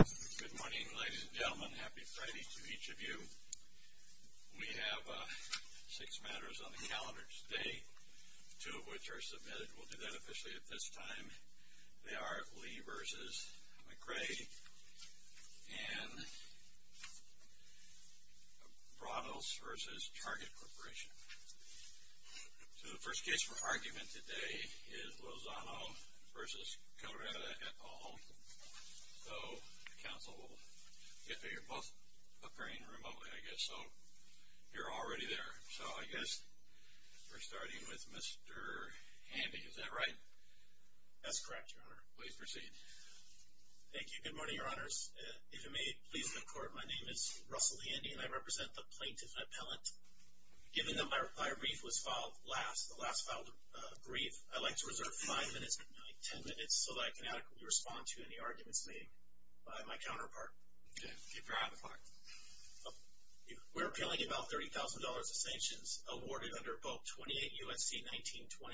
Good morning, ladies and gentlemen. Happy Friday to each of you. We have six matters on the calendar today, two of which are submitted. We'll do that officially at this time. They are Lee v. McRae and Bronos v. Target Corporation. So the first case for argument today is Lozano v. Cabrera et al. So the counsel will get there. You're both appearing remotely, I guess, so you're already there. So I guess we're starting with Mr. Handy. Is that right? That's correct, Your Honor. Please proceed. Thank you. Good morning, Your Honors. If you may, please look forward. My name is Russell Handy, and I represent the plaintiff appellate. Given that my brief was filed last, the last filed brief, I'd like to reserve five minutes, ten minutes, so that I can adequately respond to any arguments made by my counterpart. Okay. We're appealing about $30,000 of sanctions awarded under both 28 U.S.C. 1927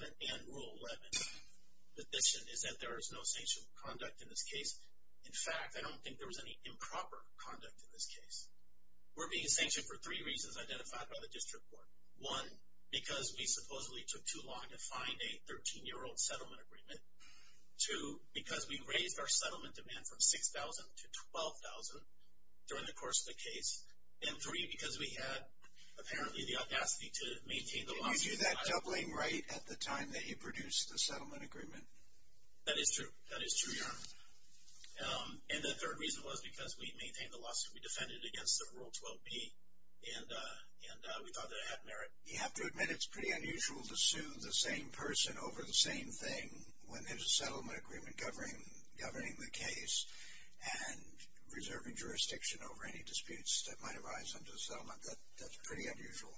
and Rule 11. The position is that there is no sanctioned conduct in this case. In fact, I don't think there was any improper conduct in this case. We're being sanctioned for three reasons identified by the district court. One, because we supposedly took too long to find a 13-year-old settlement agreement. Two, because we raised our settlement demand from $6,000 to $12,000 during the course of the case. And three, because we had apparently the audacity to maintain the lawsuit. Did you do that doubling right at the time that he produced the settlement agreement? That is true. That is true, Your Honor. And the third reason was because we maintained the lawsuit. We defended it against the Rule 12b, and we thought that it had merit. You have to admit it's pretty unusual to sue the same person over the same thing when there's a settlement agreement governing the case and reserving jurisdiction over any disputes that might arise under the settlement. That's pretty unusual.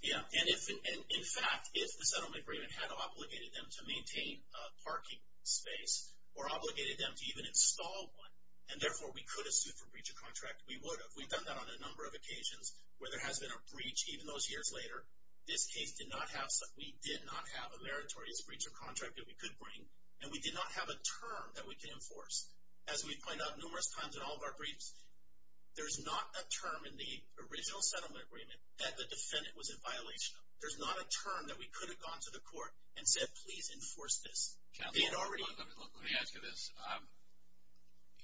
Yeah, and in fact, if the settlement agreement had obligated them to maintain a parking space or obligated them to even install one, and therefore we could have sued for breach of contract, we would have. We've done that on a number of occasions where there has been a breach, even those years later. This case did not have such. We did not have a meritorious breach of contract that we could bring, and we did not have a term that we could enforce. As we point out numerous times in all of our briefs, there's not a term in the original settlement agreement that the defendant was in violation of. There's not a term that we could have gone to the court and said, please enforce this. Counsel, let me ask you this.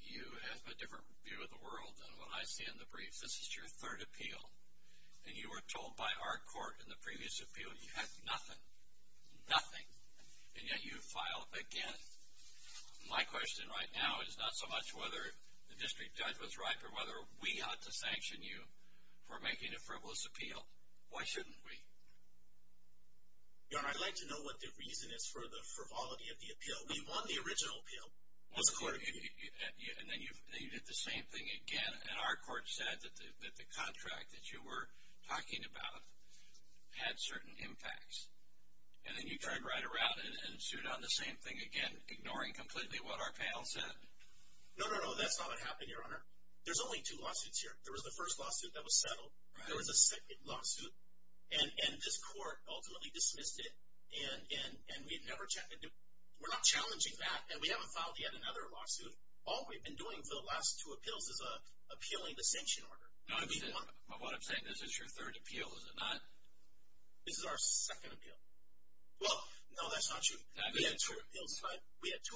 You have a different view of the world than what I see in the briefs. This is your third appeal, and you were told by our court in the previous appeal you had nothing, nothing, and yet you filed again. My question right now is not so much whether the district judge was right or whether we ought to sanction you for making a frivolous appeal. Why shouldn't we? Your Honor, I'd like to know what the reason is for the frivolity of the appeal. We won the original appeal. And then you did the same thing again, and our court said that the contract that you were talking about had certain impacts. And then you turned right around and sued on the same thing again, ignoring completely what our panel said. No, no, no, that's not what happened, Your Honor. There was the first lawsuit that was settled. There was a second lawsuit, and this court ultimately dismissed it, and we're not challenging that, and we haven't filed yet another lawsuit. All we've been doing for the last two appeals is appealing the sanction order. What I'm saying is this is your third appeal, is it not? This is our second appeal. Well, no, that's not true. We had two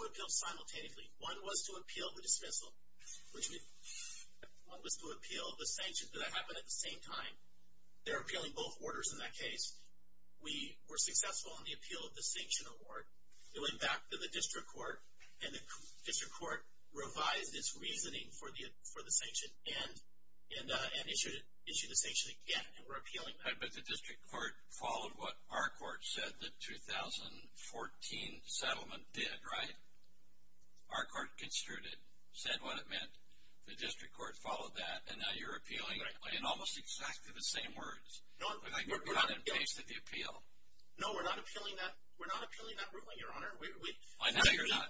appeals simultaneously. One was to appeal the dismissal, one was to appeal the sanction, but that happened at the same time. They're appealing both orders in that case. We were successful in the appeal of the sanction award. It went back to the district court, and the district court revised its reasoning for the sanction and issued the sanction again, and we're appealing that. But the district court followed what our court said the 2014 settlement did, right? Our court construed it, said what it meant. The district court followed that, and now you're appealing in almost exactly the same words. You've cut and pasted the appeal. No, we're not appealing that ruling, Your Honor. I know you're not,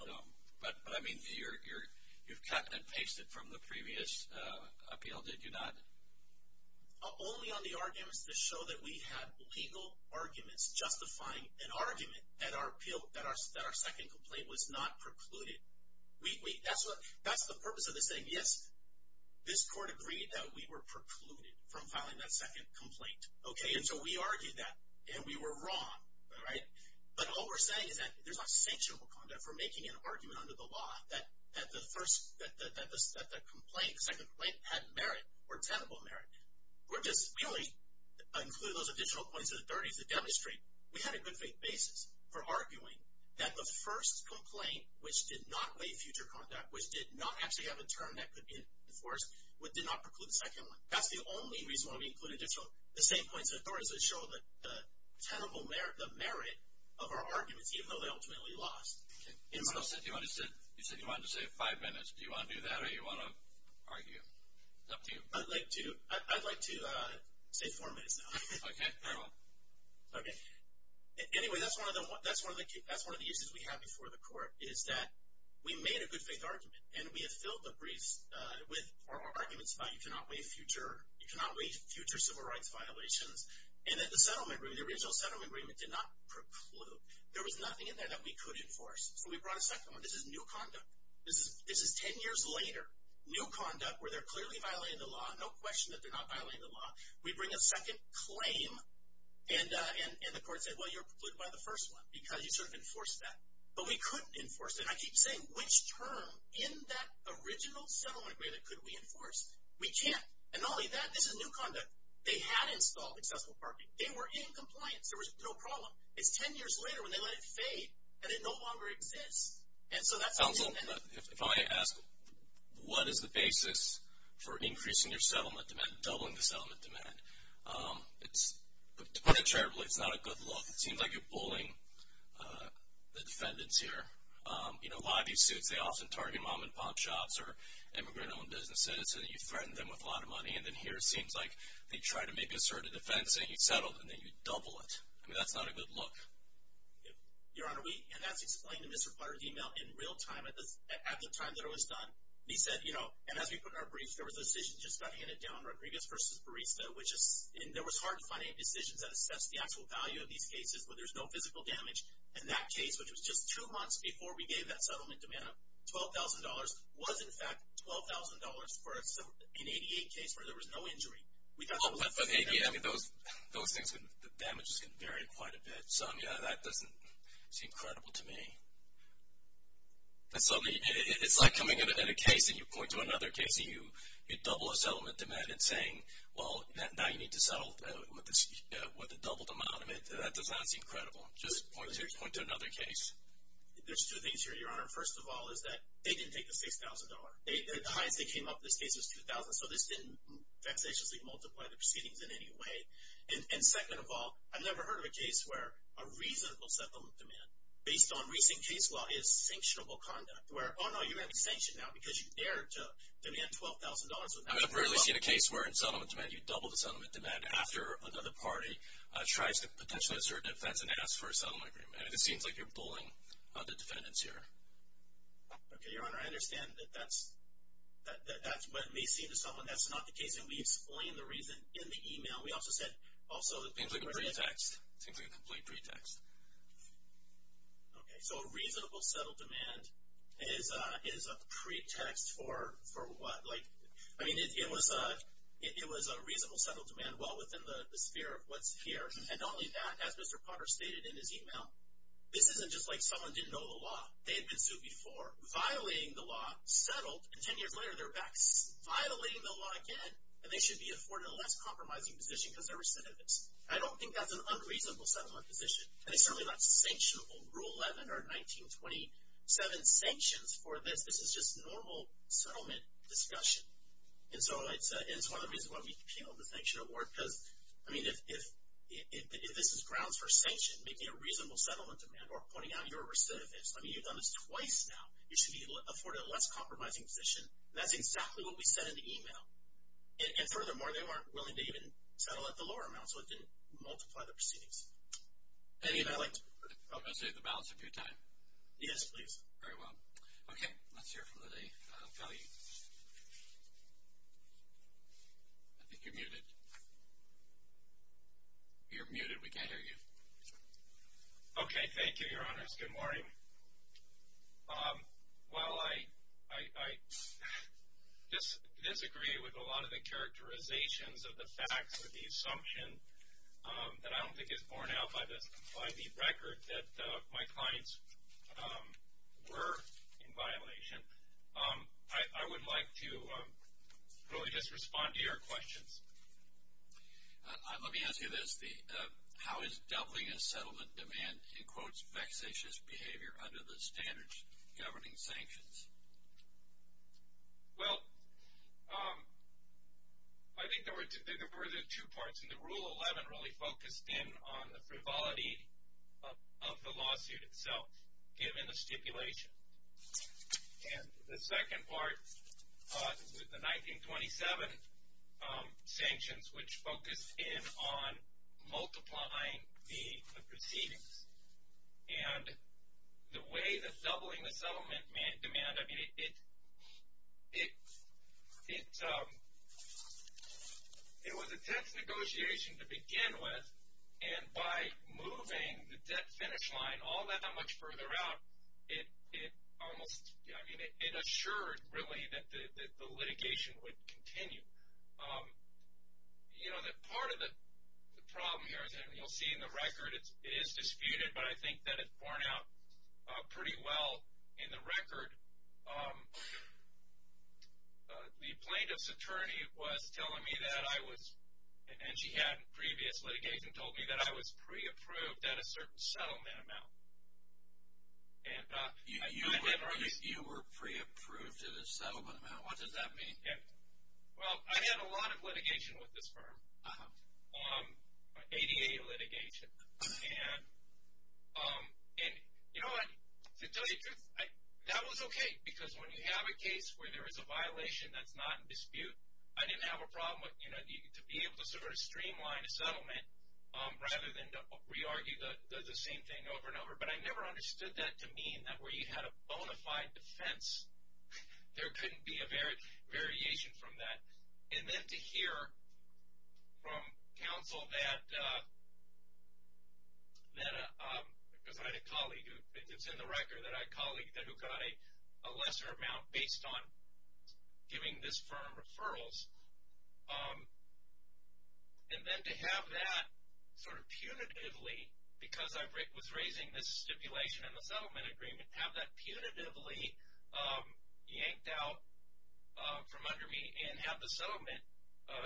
but I mean you've cut and pasted from the previous appeal, did you not? Only on the arguments that show that we had legal arguments justifying an argument that our second complaint was not precluded. That's the purpose of this thing. Yes, this court agreed that we were precluded from filing that second complaint, okay? And so we argued that, and we were wrong, all right? But all we're saying is that there's not sanctionable conduct for making an argument under the law that the second complaint had merit or tenable merit. We only included those additional points in the 30s to demonstrate we had a good faith basis for arguing that the first complaint, which did not lay future conduct, which did not actually have a term that could be enforced, did not preclude the second one. That's the only reason why we included additional, the same points in the 30s that show the tenable merit of our arguments, even though they ultimately lost. You said you wanted to save five minutes. Do you want to do that, or do you want to argue? It's up to you. I'd like to. I'd like to save four minutes now. Okay, fair enough. Okay. Anyway, that's one of the issues we have before the court, is that we made a good faith argument, and we have filled the briefs with our arguments about you cannot lay future civil rights violations, and that the settlement agreement, the original settlement agreement, did not preclude. There was nothing in there that we could enforce. So we brought a second one. This is new conduct. This is ten years later. New conduct where they're clearly violating the law. No question that they're not violating the law. We bring a second claim, and the court said, well, you're precluded by the first one because you sort of enforced that. But we couldn't enforce it. And I keep saying, which term in that original settlement agreement could we enforce? We can't. And not only that, this is new conduct. They had installed accessible parking. They were in compliance. There was no problem. It's ten years later when they let it fade, and it no longer exists. Counsel, if I may ask, what is the basis for increasing your settlement demand, doubling the settlement demand? To put it terribly, it's not a good look. It seems like you're bullying the defendants here. You know, a lot of these suits, they often target mom-and-pop shops or immigrant-owned businesses, and you threaten them with a lot of money. And then here it seems like they try to make a certain defense, and you settle, and then you double it. I mean, that's not a good look. Your Honor, and that's explained in Mr. Potter's e-mail in real time at the time that it was done. He said, you know, and as we put it in our briefs, there was a decision just got handed down, Rodriguez v. Barista, and there was hard to find any decisions that assessed the actual value of these cases where there's no physical damage. And that case, which was just two months before we gave that settlement demand of $12,000, was in fact $12,000 for an 88 case where there was no injury. Those things, the damages can vary quite a bit. So, yeah, that doesn't seem credible to me. It's like coming in a case, and you point to another case, and you double a settlement demand and saying, well, now you need to settle with a doubled amount. That does not seem credible. Just point to another case. There's two things here, Your Honor. First of all is that they didn't take the $6,000. The highest they came up in this case was $2,000. So this didn't vexatiously multiply the proceedings in any way. And second of all, I've never heard of a case where a reasonable settlement demand, based on recent case law, is sanctionable conduct. Where, oh, no, you're going to be sanctioned now because you dared to demand $12,000. I've rarely seen a case where in settlement demand you double the settlement demand after another party tries to potentially assert that that's an ask for a settlement agreement. It seems like you're bullying the defendants here. Okay, Your Honor, I understand that that's what it may seem to someone. That's not the case, and we explain the reason in the e-mail. We also said also that people are going to get it. It seems like a pretext. It seems like a complete pretext. Okay, so a reasonable settlement demand is a pretext for what? Like, I mean, it was a reasonable settlement demand well within the sphere of what's here. And not only that, as Mr. Potter stated in his e-mail, this isn't just like someone didn't know the law. They had been sued before, violating the law, settled, and ten years later they're back violating the law again, and they should be afforded a less compromising position because they're recidivists. I don't think that's an unreasonable settlement position, and it's certainly not sanctionable. Rule 11 or 1927 sanctions for this, this is just normal settlement discussion. And so it's one of the reasons why we appealed the sanction award, because, I mean, if this is grounds for sanction, making a reasonable settlement demand or pointing out you're a recidivist, I mean, you've done this twice now. You should be afforded a less compromising position. That's exactly what we said in the e-mail. And furthermore, they weren't willing to even settle at the lower amount, so it didn't multiply the proceedings. Eddie, would you like to? I'm going to save the balance of your time. Yes, please. Very well. Okay, let's hear from Lillie Fowley. I think you're muted. You're muted. We can't hear you. Okay, thank you, Your Honors. Good morning. While I disagree with a lot of the characterizations of the facts or the assumption that I don't think is borne out by the record that my clients were in violation, I would like to really just respond to your questions. Let me ask you this. How is doubling a settlement demand, in quotes, vexatious behavior under the standards governing sanctions? Well, I think there were two parts, and the Rule 11 really focused in on the frivolity of the lawsuit itself, given the stipulation. And the second part, the 1927 sanctions, which focused in on multiplying the proceedings. And the way that doubling the settlement demand, I mean, it was a tense negotiation to begin with, and by moving the debt finish line all that much further out, it almost assured, really, that the litigation would continue. You know, part of the problem here, as you'll see in the record, it is disputed, but I think that it's borne out pretty well in the record. The plaintiff's attorney was telling me that I was, and she had previous litigation, told me that I was pre-approved at a certain settlement amount. You were pre-approved at a settlement amount? What does that mean? Well, I had a lot of litigation with this firm, ADA litigation. And you know what, to tell you the truth, that was okay, because when you have a case where there is a violation that's not in dispute, I didn't have a problem with, you know, to be able to sort of streamline a settlement, rather than to re-argue the same thing over and over. But I never understood that to mean that where you had a bona fide defense, there couldn't be a variation from that. And then to hear from counsel that, because I had a colleague who, it's in the record that I had a colleague who got a lesser amount based on giving this firm referrals. And then to have that sort of punitively, because I was raising this stipulation in the settlement agreement, to have that punitively yanked out from under me and have the settlement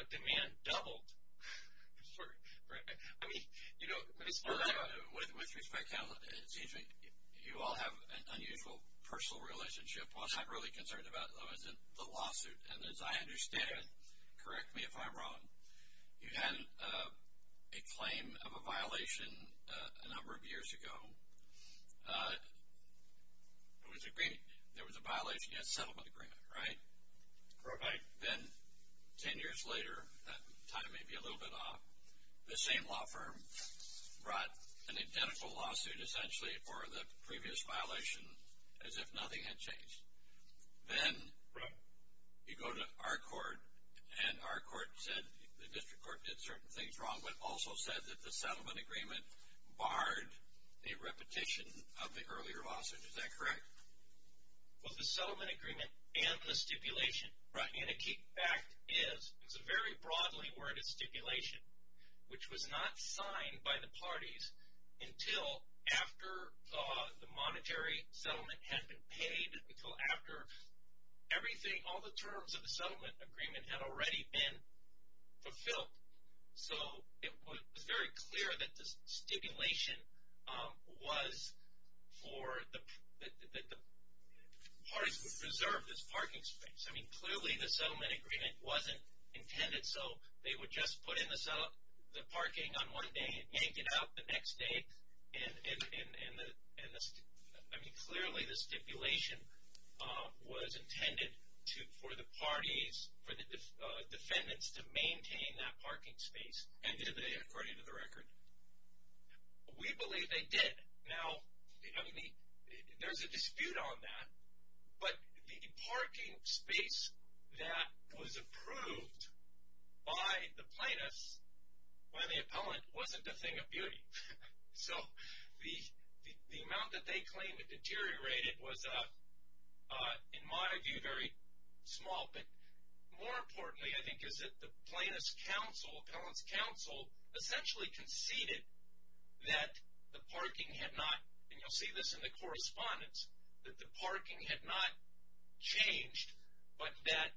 demand doubled. I mean, you know, with respect to that, it seems like you all have an unusual personal relationship. I was not really concerned about that when I was in the lawsuit. And as I understand, correct me if I'm wrong, you had a claim of a violation a number of years ago. There was a violation against the settlement agreement, right? Right. Then 10 years later, that time may be a little bit off, the same law firm brought an identical lawsuit essentially for the previous violation, as if nothing had changed. Then you go to our court, and our court said, the district court did certain things wrong, but also said that the settlement agreement barred the repetition of the earlier lawsuit. Is that correct? Well, the settlement agreement and the stipulation, and a key fact is, it's a very broadly worded stipulation, which was not signed by the parties until after the monetary settlement had been paid, until after everything, all the terms of the settlement agreement had already been fulfilled. So it was very clear that the stipulation was for the parties to preserve this parking space. I mean, clearly the settlement agreement wasn't intended so they would just put in the parking on one day and yank it out the next day. I mean, clearly the stipulation was intended for the parties, for the defendants to maintain that parking space, according to the record. We believe they did. Now, there's a dispute on that, but the parking space that was approved by the plaintiffs, by the appellant, wasn't a thing of beauty. So the amount that they claimed had deteriorated was, in my view, very small. But more importantly, I think, is that the plaintiff's counsel, appellant's counsel, essentially conceded that the parking had not, and you'll see this in the correspondence, that the parking had not changed, but that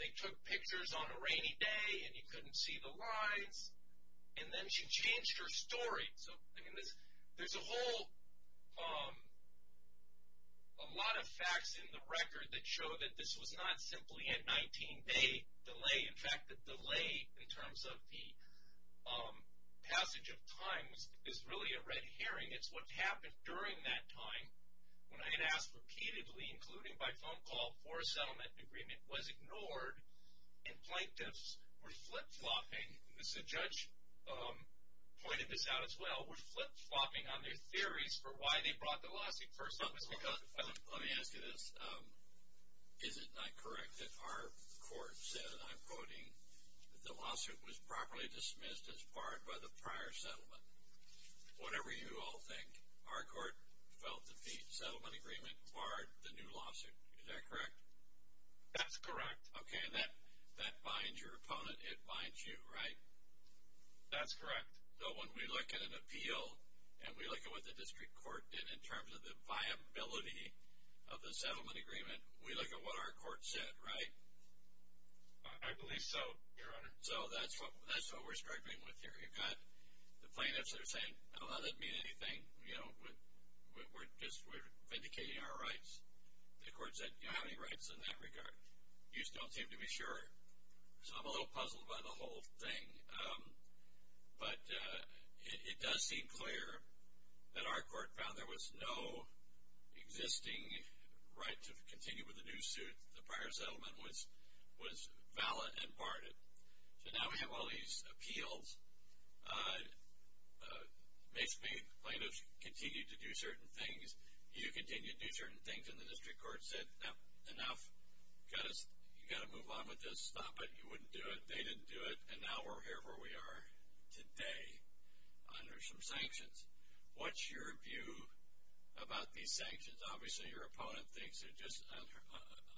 they took pictures on a rainy day and you couldn't see the lines. And then she changed her story. So there's a whole lot of facts in the record that show that this was not simply a 19-day delay. In fact, the delay in terms of the passage of time is really a red herring. It's what happened during that time when I had asked repeatedly, including by phone call for a settlement agreement, was ignored, and plaintiffs were flip-flopping, as the judge pointed this out as well, were flip-flopping on their theories for why they brought the lawsuit first. Let me ask you this. Is it not correct that our court said, and I'm quoting, that the lawsuit was properly dismissed as barred by the prior settlement? Whatever you all think, our court felt that the settlement agreement barred the new lawsuit. Is that correct? That's correct. Okay, and that binds your opponent. It binds you, right? That's correct. So when we look at an appeal and we look at what the district court did in terms of the viability of the settlement agreement, we look at what our court said, right? I believe so, Your Honor. So that's what we're struggling with here. You've got the plaintiffs that are saying, oh, that doesn't mean anything, we're just vindicating our rights. The court said, you don't have any rights in that regard. You just don't seem to be sure. So I'm a little puzzled by the whole thing. But it does seem clear that our court found there was no existing right to continue with the new suit. The prior settlement was valid and barred. So now we have all these appeals. Plaintiffs continue to do certain things. You continue to do certain things. And the district court said, no, enough. You've got to move on with this. Stop it. You wouldn't do it. They didn't do it. And now we're here where we are today under some sanctions. What's your view about these sanctions? Obviously your opponent thinks they're just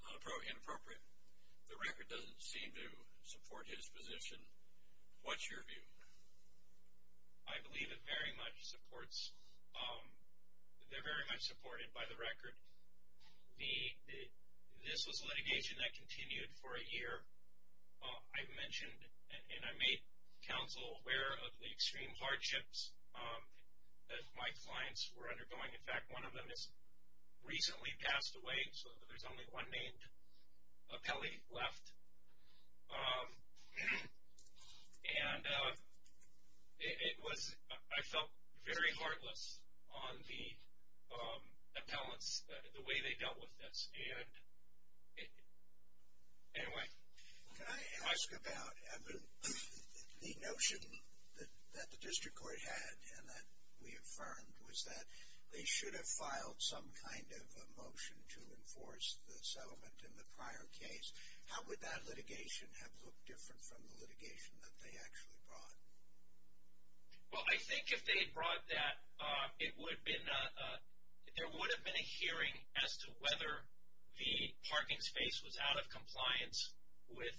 inappropriate. The record doesn't seem to support his position. What's your view? I believe it very much supports, they're very much supported by the record. This was litigation that continued for a year. I mentioned and I made counsel aware of the extreme hardships that my clients were undergoing. In fact, one of them has recently passed away. So there's only one named appellee left. And it was, I felt very heartless on the appellants, the way they dealt with this. And anyway. Can I ask about, Evan, the notion that the district court had and that we affirmed was that they should have filed some kind of a motion to enforce the settlement in the prior case. How would that litigation have looked different from the litigation that they actually brought? Well, I think if they had brought that, it would have been, there would have been a hearing as to whether the parking space was out of compliance with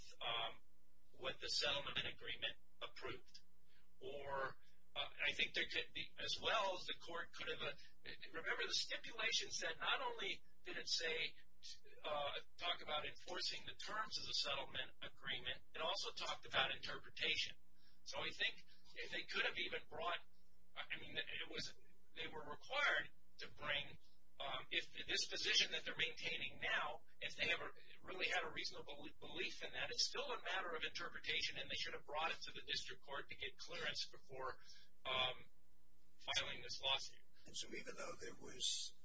what the settlement agreement approved. Or I think there could be, as well as the court could have, remember the stipulations that not only did it say, talk about enforcing the terms of the settlement agreement, it also talked about interpretation. So I think if they could have even brought, I mean, they were required to bring, if this position that they're maintaining now, if they really had a reasonable belief in that, it's still a matter of interpretation and they should have brought it to the district court to get clearance before filing this lawsuit. And so even though there was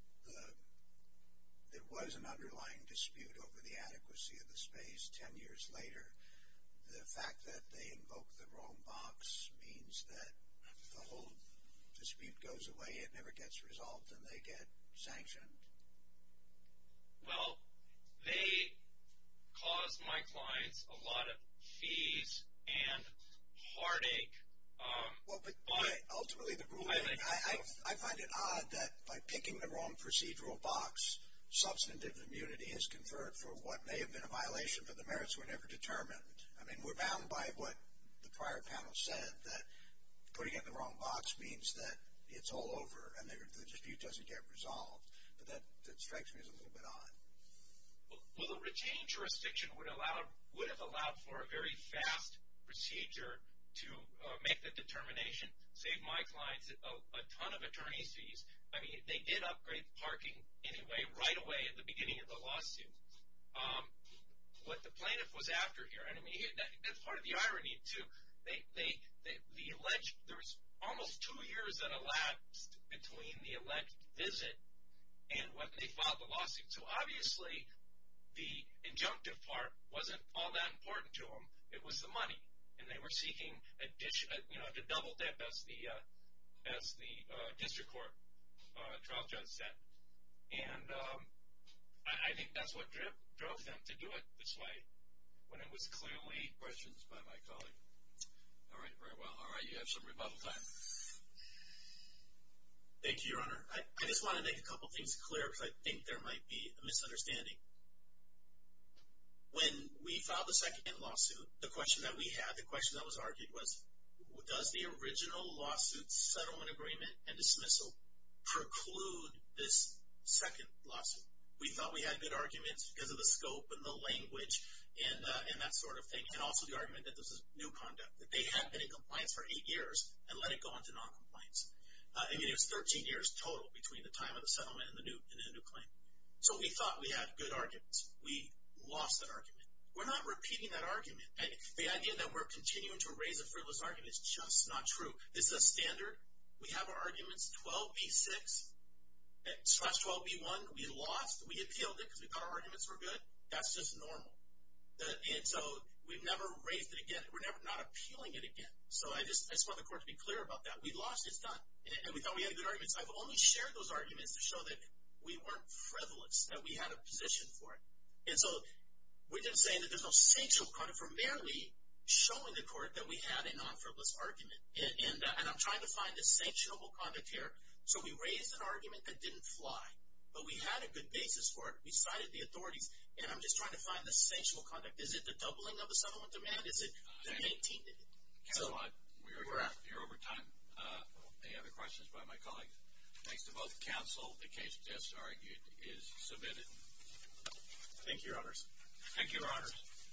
an underlying dispute over the adequacy of the space ten years later, the fact that they invoked the wrong box means that the whole dispute goes away, it never gets resolved, and they get sanctioned. Well, they caused my clients a lot of fees and heartache. Ultimately, the ruling, I find it odd that by picking the wrong procedural box, substantive immunity is conferred for what may have been a violation, but the merits were never determined. I mean, we're bound by what the prior panel said, that putting it in the wrong box means that it's all over and the dispute doesn't get resolved. But that strikes me as a little bit odd. Well, the retained jurisdiction would have allowed for a very fast procedure to make the determination, save my clients a ton of attorney's fees. I mean, they did upgrade parking anyway right away at the beginning of the lawsuit. What the plaintiff was after here, and I mean, that's part of the irony, too. There was almost two years that elapsed between the elect visit and when they filed the lawsuit. So, obviously, the injunctive part wasn't all that important to them. It was the money, and they were seeking additional, you know, to double that as the district court trial judge said. And I think that's what drove them to do it this way when it was clearly questions by my colleague. All right, very well. All right, you have some rebuttal time. Thank you, Your Honor. I just want to make a couple things clear because I think there might be a misunderstanding. When we filed the second lawsuit, the question that we had, the question that was argued, was does the original lawsuit settlement agreement and dismissal preclude this second lawsuit? We thought we had good arguments because of the scope and the language and that sort of thing, and also the argument that this is new conduct, that they had been in compliance for eight years and let it go on to noncompliance. I mean, it was 13 years total between the time of the settlement and the new claim. So, we thought we had good arguments. We lost that argument. We're not repeating that argument. The idea that we're continuing to raise a frivolous argument is just not true. This is a standard. We have our arguments, 12B6, 12B1. We lost. We appealed it because we thought our arguments were good. That's just normal. And so, we've never raised it again. We're never not appealing it again. So, I just want the court to be clear about that. We lost. It's done. And we thought we had good arguments. I've only shared those arguments to show that we weren't frivolous, that we had a position for it. And so, we're just saying that there's no sanctionable conduct. We're merely showing the court that we had a non-frivolous argument. And I'm trying to find the sanctionable conduct here. So, we raised an argument that didn't fly, but we had a good basis for it. We cited the authorities, and I'm just trying to find the sanctionable conduct. Is it the doubling of the settlement demand? Is it the maintaining it? We're out. We're out. We're over time. Any other questions by my colleagues? Thanks to both counsel. The case, as argued, is submitted. Thank you, Your Honors. Thank you, Your Honors.